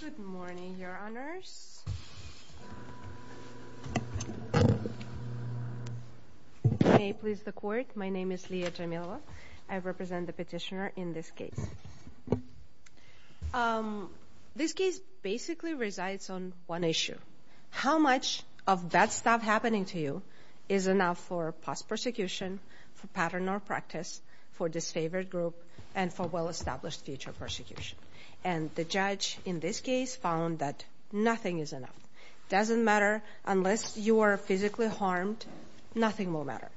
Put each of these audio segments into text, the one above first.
Good morning, your honors. May it please the court, my name is Lia Jamilova. I represent the petitioner in this case. This case basically resides on one issue. How much of that stuff happening to you is enough for post-persecution, for pattern or practice, for disfavored group, and for well-established future persecution? And the judge in this case found that nothing is enough. Doesn't matter unless you are physically harmed, nothing will matter.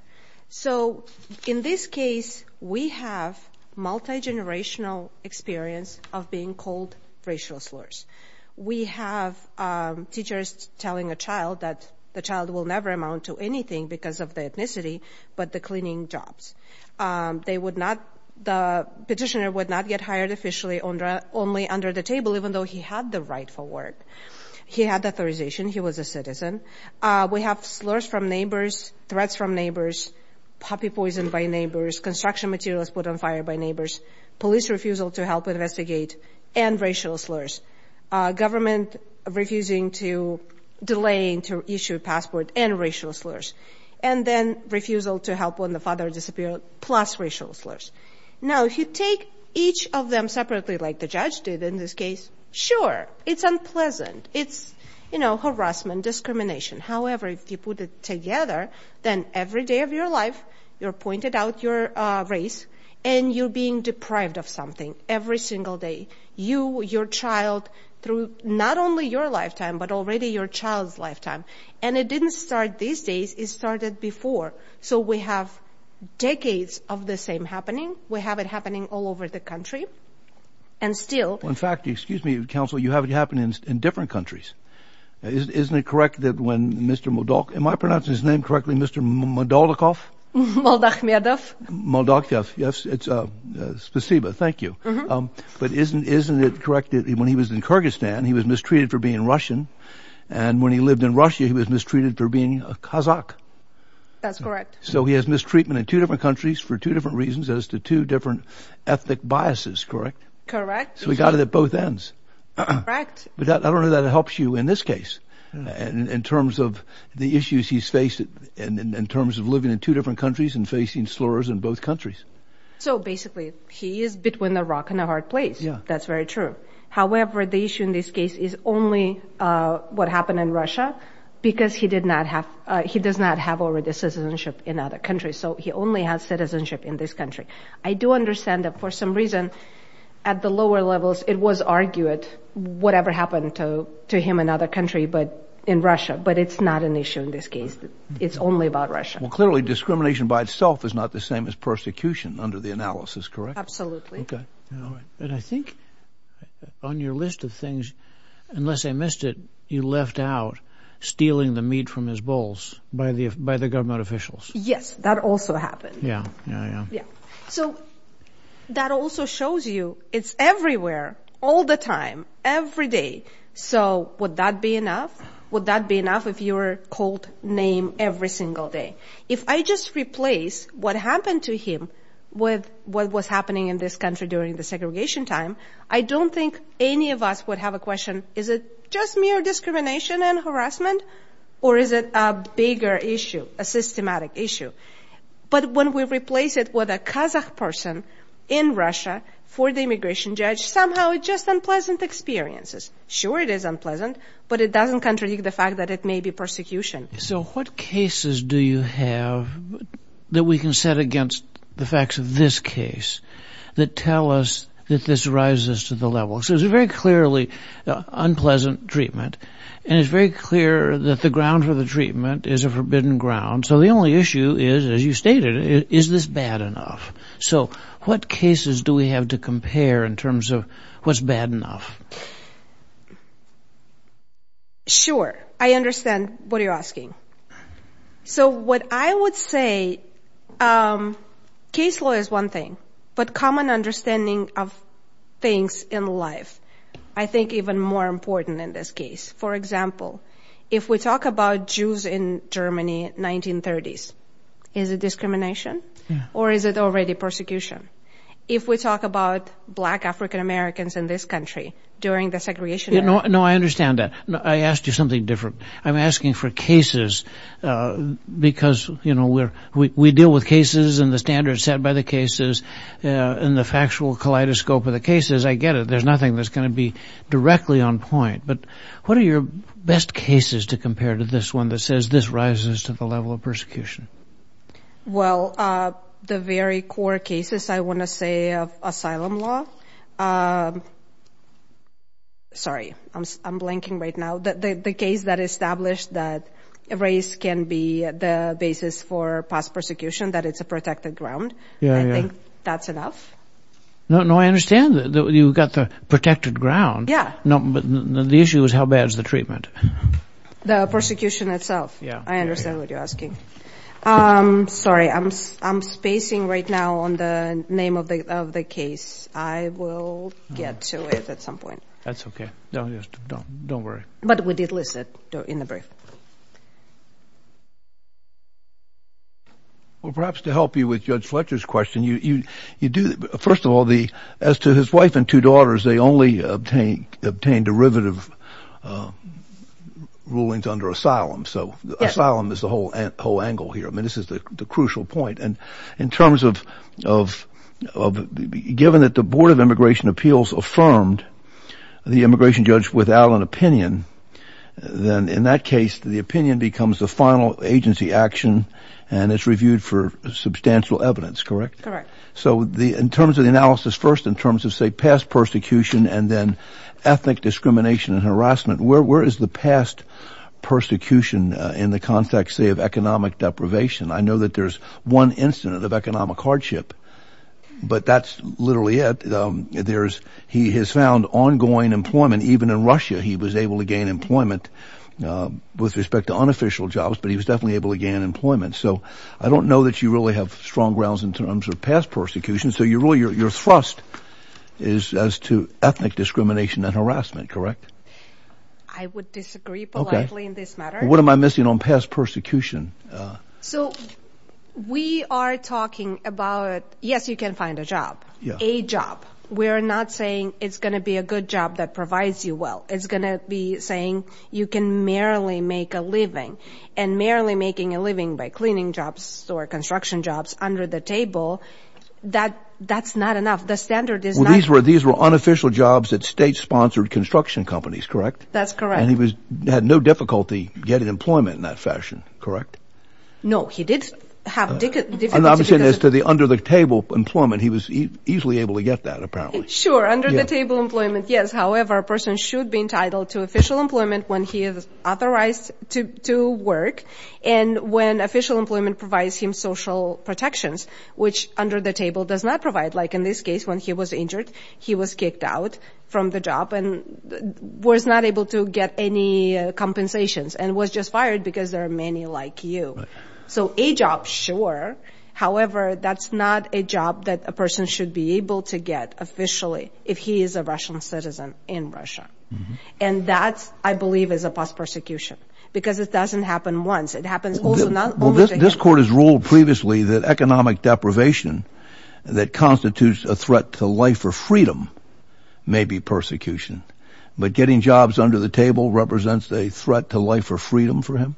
So in this case we have multi-generational experience of being called racial slurs. We have teachers telling a child that the child will never amount to anything because of the ethnicity, but the cleaning jobs. They would not, the petitioner would not get officially only under the table even though he had the right for work. He had authorization, he was a citizen. We have slurs from neighbors, threats from neighbors, puppy poison by neighbors, construction materials put on fire by neighbors, police refusal to help investigate, and racial slurs. Government refusing to delay to issue a passport and racial slurs. And then refusal to help when the father disappeared plus racial slurs. Now if you take each of them separately like the judge did in this case, sure, it's unpleasant. It's, you know, harassment, discrimination. However, if you put it together, then every day of your life you're pointed out your race and you're being deprived of something every single day. You, your child, through not only your lifetime but already your child's lifetime. And it didn't start these days, it started before. So we have decades of the same happening. We have it happening all over the country and still. In fact, excuse me, counsel, you have it happen in different countries. Isn't it correct that when Mr. Modok, am I pronouncing his name correctly, Mr. Modolikov? Yes, it's a spasiba, thank you. But isn't, isn't it correct that when he was in Kyrgyzstan he was mistreated for being Russian and when he lived in Russia he was mistreated for being a Kazakh? That's mistreatment in two different countries for two different reasons as to two different ethnic biases, correct? Correct. So we got it at both ends. Correct. But that, I don't know that it helps you in this case and in terms of the issues he's faced in terms of living in two different countries and facing slurs in both countries. So basically he is between a rock and a hard place. Yeah. That's very true. However, the issue in this case is only what happened in Russia because he did not have, he does not have already citizenship in other countries so he only has citizenship in this country. I do understand that for some reason at the lower levels it was argued whatever happened to to him in other country but in Russia but it's not an issue in this case. It's only about Russia. Well clearly discrimination by itself is not the same as persecution under the analysis, correct? Absolutely. And I think on your list of things, unless I missed it, you left out stealing the meat from his bowls by the, by the government officials. Yes, that also happened. Yeah. So that also shows you it's everywhere, all the time, every day. So would that be enough? Would that be enough if you were called name every single day? If I just replace what happened to him with what was happening in this country during the segregation time, I don't think any of us would have a question, is it just mere discrimination and harassment or is it a bigger issue, a systematic issue? But when we replace it with a Kazakh person in Russia for the immigration judge, somehow it's just unpleasant experiences. Sure it is unpleasant but it doesn't contradict the fact that it may be persecution. So what cases do you have that we can set against the facts of this case that tell us that this rises to the level? So it's a very clearly unpleasant treatment and it's very clear that the ground for the treatment is a forbidden ground. So the only issue is, as you stated, is this bad enough? So what cases do we have to compare in terms of what's bad enough? Sure, I understand what you're asking. So what I would say, case law is one thing, but common understanding of things in life, I think even more important in this case. For example, if we talk about Jews in Germany 1930s, is it discrimination or is it already persecution? If we talk about black African-Americans in this country during the segregation... No, I understand that. I asked you something different. I'm asking for cases because, you know, we deal with cases and the standards set by the cases and the factual kaleidoscope of the cases. I get it. There's nothing that's going to be directly on point. But what are your best cases to compare to this one that says this rises to the level of persecution? Well, the very core cases, I want to say of asylum law. Sorry, I'm blanking right now. The case that established that race can be the basis for past persecution, that it's a protected ground. I think that's enough. No, I understand that you've got the protected ground. Yeah. No, but the issue is how bad is the treatment? The persecution itself. Yeah, I understand what you're asking. Sorry, I'm spacing right now on the name of the case. I will get to it at some point. That's okay. Don't worry. But we did list it in the brief. Well, perhaps to help you with Judge Fletcher's question, you do, first of all, as to his wife and two daughters, they only obtained derivative rulings under asylum. So asylum is the whole angle here. I mean, this is the crucial point. And in terms of, given that the Board of Immigration judges without an opinion, then in that case, the opinion becomes the final agency action, and it's reviewed for substantial evidence, correct? Correct. So in terms of the analysis, first, in terms of, say, past persecution, and then ethnic discrimination and harassment, where is the past persecution in the context, say, of economic deprivation? I know that there's one incident of economic hardship, but that's literally it. He has found ongoing employment, even in Russia, he was able to gain employment with respect to unofficial jobs, but he was definitely able to gain employment. So I don't know that you really have strong grounds in terms of past persecution. So your thrust is as to ethnic discrimination and harassment, correct? I would disagree politely in this matter. What am I missing on past persecution? So we are talking about, yes, you can find a job, a job. We're not saying it's going to be a good job that provides you well. It's going to be saying you can merely make a living, and merely making a living by cleaning jobs or construction jobs under the table, that's not enough. The standard is not... Well, these were unofficial jobs that state-sponsored construction companies, correct? That's correct. And he had no difficulty getting employment in that fashion, correct? No, he did have difficulty because... I'm not saying as to the under-the-table employment, he was easily able to get that, apparently. Sure, under-the-table employment, yes. However, a person should be entitled to official employment when he is authorized to work, and when official employment provides him social protections, which under-the-table does not provide. Like in this case, when he was injured, he was kicked out from the job, and was not able to get any compensations, and was just fired because there are many like you. So, a job, sure. However, that's not a job that a person should be able to get, officially, if he is a Russian citizen in Russia. And that, I believe, is a post-persecution, because it doesn't happen once. It happens also not... Well, this court has ruled previously that economic deprivation that constitutes a threat to life or freedom, may be persecution. But getting jobs under the table represents a threat to life or freedom for him?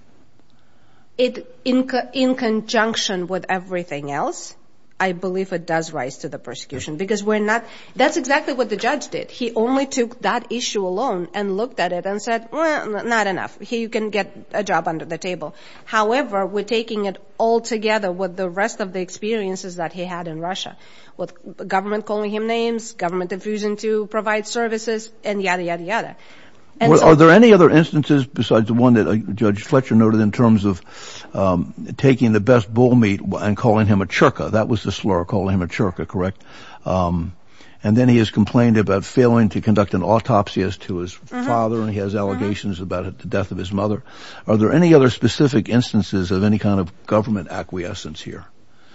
In conjunction with everything else, I believe it does rise to the persecution, because we're not... That's exactly what the judge did. He only took that issue alone, and looked at it, and said, well, not enough. Here, you can get a job under the table. However, we're taking it all together with the rest of the experiences that he had in Russia, with government calling him names, government refusing to provide services, and yada, yada, yada. Are there any other instances, besides the one that Judge Fletcher noted, in terms of taking the best bull meat, and calling him a churka? That was the slur, calling him a churka, correct? And then he has complained about failing to conduct an autopsy as to his father, and he has allegations about the death of his mother. Are there any other specific instances of any kind of government acquiescence here?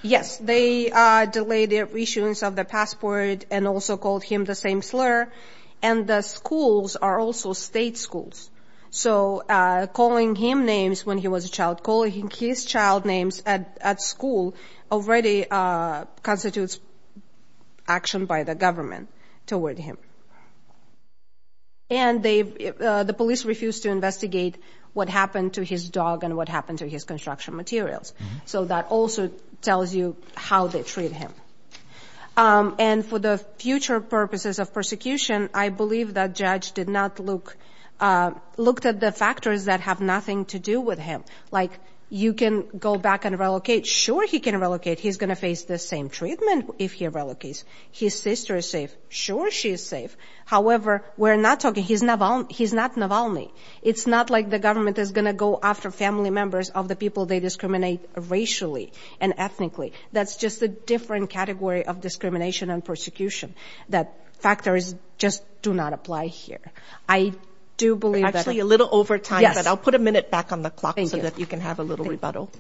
Yes. They delayed the issuance of the passport, and also called him the same slur. And the schools are also state schools. So calling him names when he was a child, calling his child names at school, already constitutes action by the government toward him. And the police refused to investigate what happened to his dog, and what happened to his construction materials. So that also tells you how they treat him. And for the future purposes of persecution, I believe that judge did not look... Looked at the factors that have nothing to do with him. You can go back and relocate. Sure, he can relocate. He's gonna face the same treatment if he relocates. His sister is safe. Sure, she is safe. However, we're not talking... He's not Navalny. It's not like the government is gonna go after family members of the people they discriminate racially and ethnically. That's just a different category of discrimination and persecution. That factors just do not apply here. I do believe that... Actually, a little over time, but I'll put a minute back on the clock so that you can have a little rebuttal.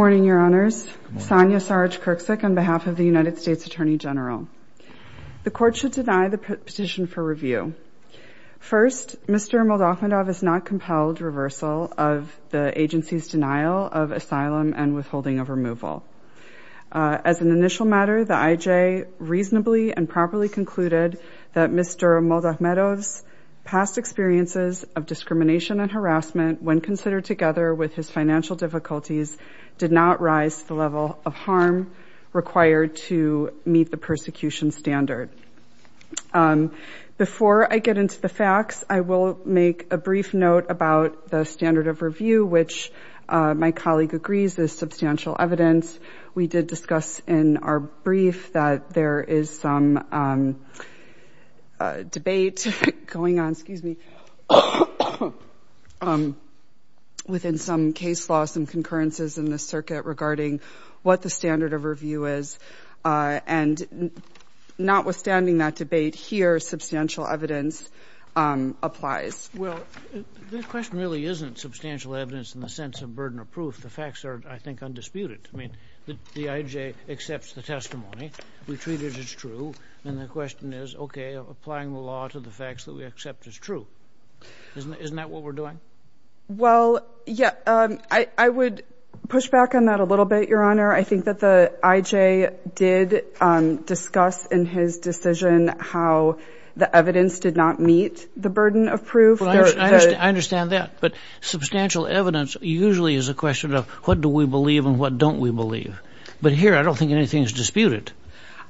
Good morning, Your Honors. Good morning. Sonia Sarge-Kirksick on behalf of the United States Attorney General. The court should deny the petition for review. First, Mr. Moldavidov is not compelled reversal of the agency's denial of asylum and withholding of removal. As an initial matter, the IJ reasonably and properly concluded that Mr. Moldavidov's past experiences of discrimination and harassment, when considered together with his financial difficulties, did not rise to the level of harm required to meet the persecution standard. Before I get into the facts, I will make a brief note about the standard of review, which my colleague agrees is substantial evidence. We did discuss in our brief that there is some debate going on, excuse me, within some case laws and concurrences in the circuit regarding what the standard of review is. And notwithstanding that debate here, substantial evidence applies. Well, the question really isn't substantial evidence in the sense of burden of proof. The facts are, I think, undisputed. I mean, the IJ accepts the testimony. We treat it as true. And the question is, okay, applying the law to the facts that we accept as true. Isn't that what we're doing? Well, yeah, I would push back on that a little bit, Your Honor. I think that the IJ did discuss in his decision how the evidence did not meet the burden of proof. I understand that. But substantial evidence usually is a question of what do we believe and what don't we believe. But here, I don't think anything is disputed.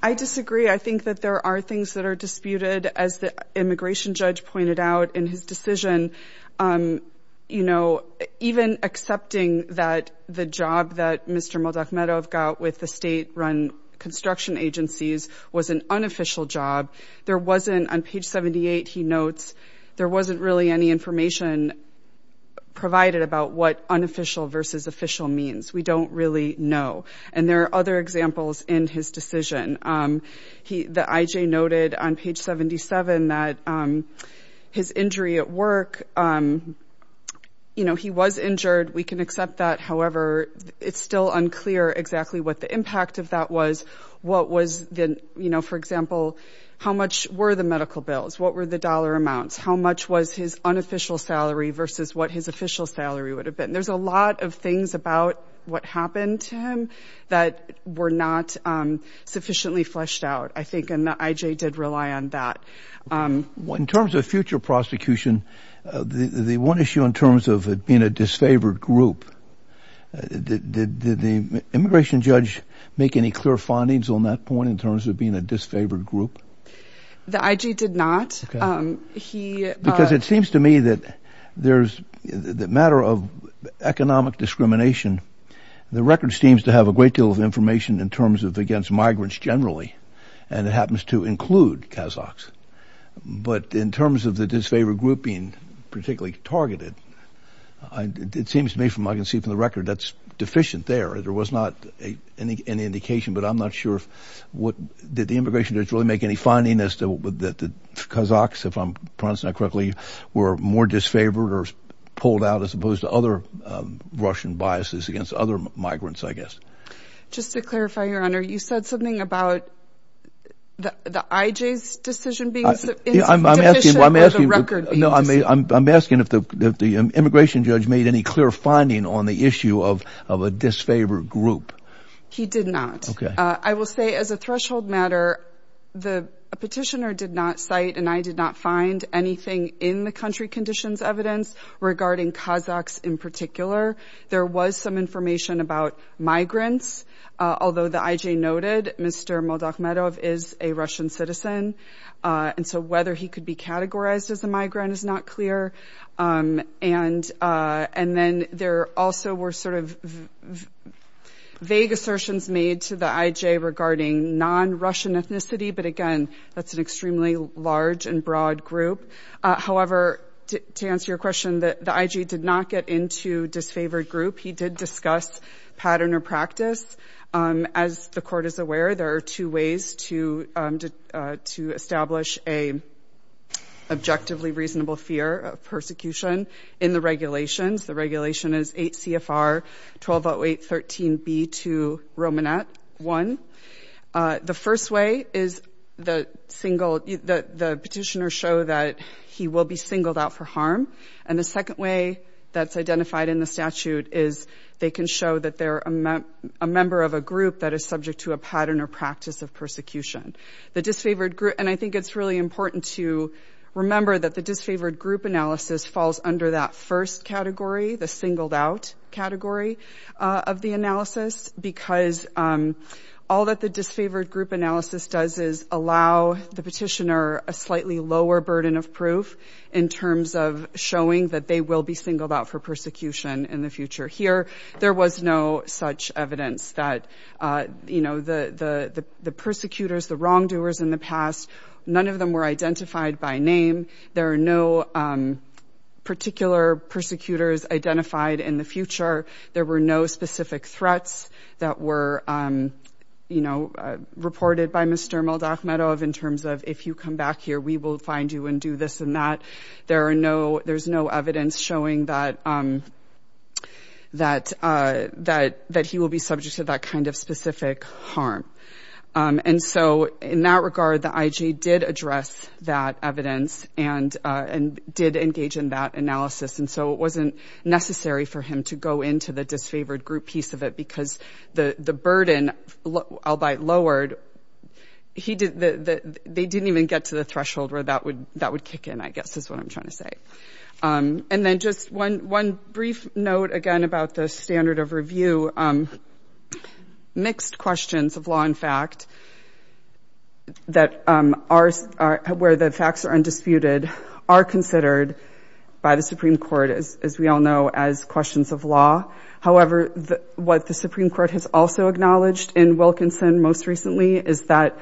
I disagree. I think that there are things that are disputed, as the immigration judge pointed out in his decision. You know, even accepting that the job that Mr. Moldavmedov got with the state-run construction agencies was an unofficial job, there wasn't, on page 78, he notes, there wasn't really any information provided about what unofficial versus official means. We don't really know. And there are other examples in his decision. The IJ noted on page 77 that his injury at work, you know, he was injured. We can accept that. However, it's still unclear exactly what the impact of that was. What was the, you know, for example, how much were the medical bills? What were the dollar amounts? How much was his unofficial salary versus what his official salary would have been? There's a lot of things about what happened to him that were not sufficiently fleshed out, I think. And the IJ did rely on that. In terms of future prosecution, the one issue in terms of it being a disfavored group, did the immigration judge make any clear findings on that point in terms of being a disfavored group? The IJ did not. Because it seems to me that there's, the matter of economic discrimination, the record seems to have a great deal of information in terms of against migrants generally, and it happens to include Kazakhs. But in terms of the it seems to me from, I can see from the record, that's deficient there. There was not any indication, but I'm not sure if what, did the immigration judge really make any finding as to that the Kazakhs, if I'm pronouncing that correctly, were more disfavored or pulled out as opposed to other Russian biases against other migrants, I guess. Just to clarify, Your Honor, you said something about the IJ's decision being deficient or the record being deficient? No, I'm asking if the immigration judge made any clear finding on the issue of a disfavored group. He did not. I will say as a threshold matter, the petitioner did not cite, and I did not find, anything in the country conditions evidence regarding Kazakhs in particular. There was some information about migrants, although the IJ noted Mr. Moldachmedov is a Russian citizen, and so whether he could be categorized as a migrant is not clear. And then there also were sort of vague assertions made to the IJ regarding non-Russian ethnicity, but again, that's an extremely large and broad group. However, to answer your question, the IJ did not get into disfavored group. He did discuss pattern or practice. As the Court is aware, there are two ways to establish a objectively reasonable fear of persecution in the regulations. The regulation is 8 CFR 1208.13b to Romanet 1. The first way is the petitioner show that he will be singled out for harm, and the second way that's identified in the statute is they can show that they're a member of a group that is subject to a pattern or practice of persecution. The disfavored group, and I think it's really important to remember that the disfavored group analysis falls under that first category, the singled out category of the analysis, because all that the disfavored group analysis does is allow the petitioner a slightly lower burden of proof in terms of showing that they will be singled out for persecution in the future. Here, there was no such evidence that the persecutors, the wrongdoers in the past, none of them were identified by name. There are no particular persecutors identified in the future. There were no specific threats that were reported by Mr. Moldachmedov in terms of, if you come back here, we will find you and do this and that. There's no evidence showing that he will be subject to that kind of specific harm. And so in that regard, the IG did address that evidence and did engage in that analysis, and so it wasn't necessary for him to go into the disfavored group piece of it because the burden, albeit lowered, they didn't even get to the threshold where that would kick in, I guess, is what I'm trying to say. And then just one brief note, again, about the standard of review. Mixed questions of law and fact, where the facts are undisputed, are considered by the Supreme Court, as we all know, as questions of law. However, what the Supreme Court has also acknowledged in Wilkinson most recently is that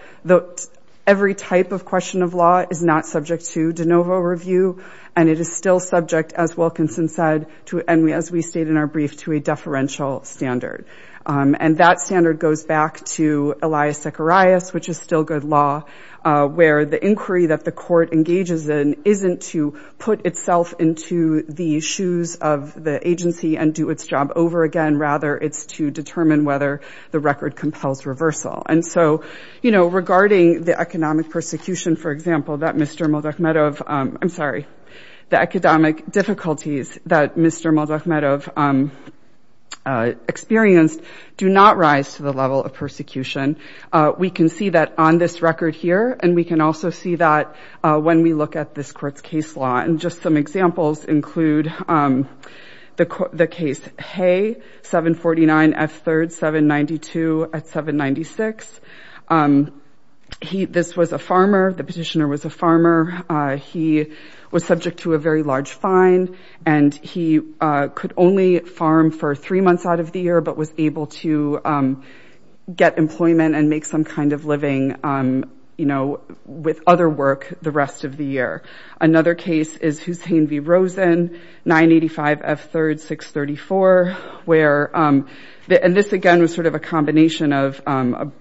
every type of question of law is not subject to de novo review, and it is still subject, as Wilkinson said, and as we state in our brief, to a deferential standard. And that standard goes back to Elias Zecharias, which is still good law, where the inquiry that the court engages in isn't to put itself into the shoes of the agency and do its job over again. Rather, it's to determine whether the record compels reversal. And so, you know, regarding the economic persecution, for example, that Mr. Moldachmedov, I'm sorry, the economic difficulties that Mr. Moldachmedov experienced do not rise to the level of persecution. We can see that on this record here, and we can also see that when we look at this court's case law. And just some examples include the case Hay, 749 F. 3rd, 792 at 796. This was a farmer. The petitioner was a farmer. He was subject to a very large fine, and he could only farm for three months out of the year, but was able to get employment and make some kind of living, you know, with other work the rest of the year. Another case is Hussain v. Rosen, 985 F. 3rd, 634, where, and this again was sort of a combination of,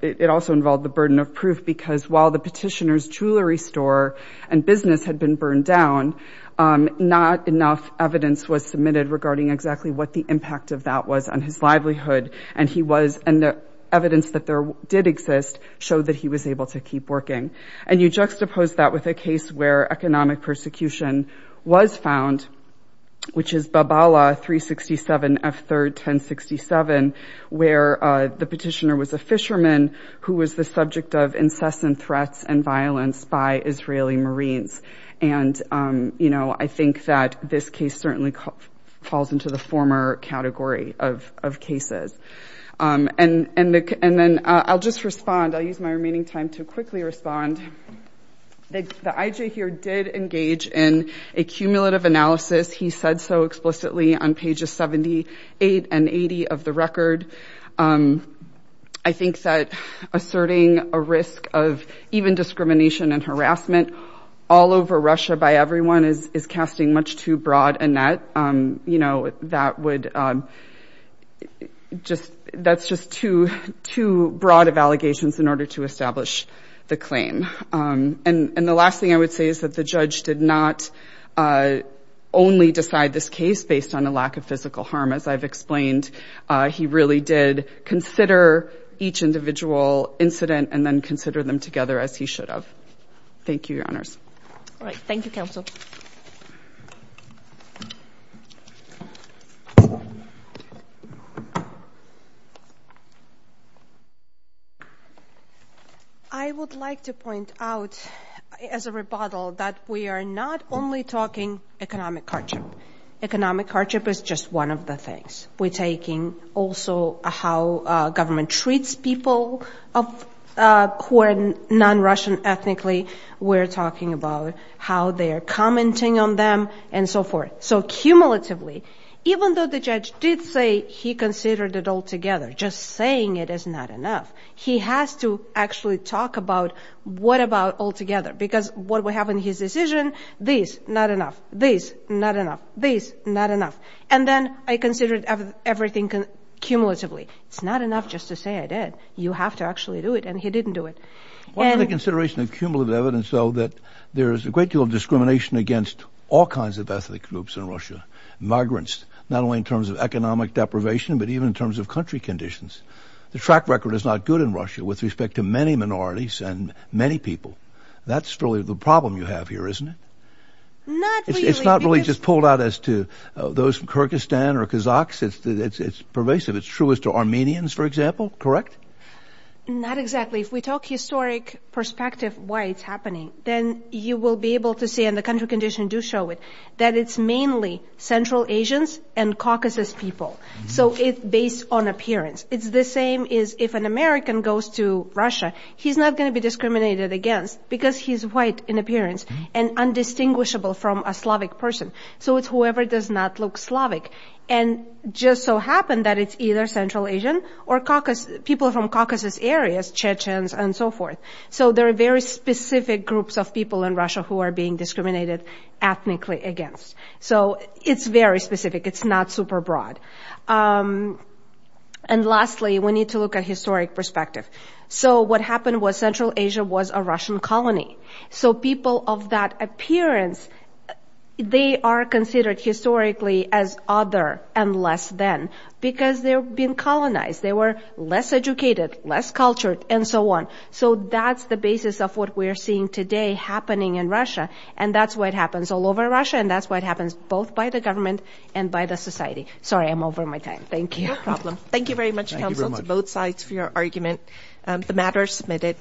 it also involved the burden of proof, because while the petitioner's jewelry store and business had been burned down, not enough evidence was submitted regarding exactly what the impact of that was on his livelihood. And he was, and the evidence that there did exist showed that he was able to keep working. And you juxtapose that with a case where economic persecution was found, which is Babala, 367 F. 3rd, 1067, where the petitioner was a fisherman who was the subject of incessant threats and violence by Israeli Marines. And, you know, I think that this case certainly falls into the former category of cases. And then I'll just respond. I'll use my remaining time to quickly respond. The IJ here did engage in a cumulative analysis. He said so explicitly on pages 78 and 80 of the record. I think that asserting a risk of even discrimination and harassment all over Russia by everyone is casting much too broad a net. You know, that would just, that's just too, too broad of allegations in order to establish the claim. And the last thing I would say is that the judge did not only decide this case based on a lack of physical harm. As I've explained, he really did consider each individual incident and then consider them together as he should have. Thank you, Your Honors. All right. Thank you, Counsel. I would like to point out as a rebuttal that we are not only talking economic hardship. Economic hardship is just one of the things we're taking. Also, how government treats people who are non-Russian ethnically. We're talking about how they're commenting on them and so forth. So cumulatively, even though the judge did say he considered it all together, just saying it is not enough. He has to actually talk about what about all together, because what we have in his decision, this, not enough, this, not enough, this, not enough. And then I considered everything cumulatively. It's not enough just to say I did. You have to actually do it. And he didn't do it. What are the considerations of cumulative evidence, though, that there is a great deal of discrimination against all kinds of ethnic groups in Russia, migrants, not only in terms of economic deprivation, but even in terms of country conditions? The track record is not good in Russia with respect to many minorities and many people. That's really the problem you have here, isn't it? Not really. It's not really just pulled out as to those from Kyrgyzstan or Kazakhs. It's pervasive. It's true as to Armenians, for example. Correct? Not exactly. If we talk historic perspective, why it's happening, then you will be able to see, and the country condition do show it, that it's mainly Central Asians and Caucasus people. So it's based on appearance. It's the same as if an American goes to Russia, he's not going to be discriminated against because he's white in appearance and indistinguishable from a Slavic person. So it's whoever does not look Slavic. And just so happened that it's either Central Asian or Caucasus, people from Caucasus areas, Chechens and so forth. So there are very specific groups of people in Russia who are being discriminated ethnically against. So it's very specific. It's not super broad. And lastly, we need to look at historic perspective. So what happened was Central Asia was a Russian colony. So people of that appearance, they are considered historically as other and less than, because they're being colonized. They were less educated, less cultured, and so on. So that's the basis of what we're seeing today happening in Russia. And that's what happens all over Russia. And that's what happens both by the government and by the society. Sorry, I'm over my time. Thank you. No problem. Thank you very much, counsel, to both sides for your argument. The matter is submitted.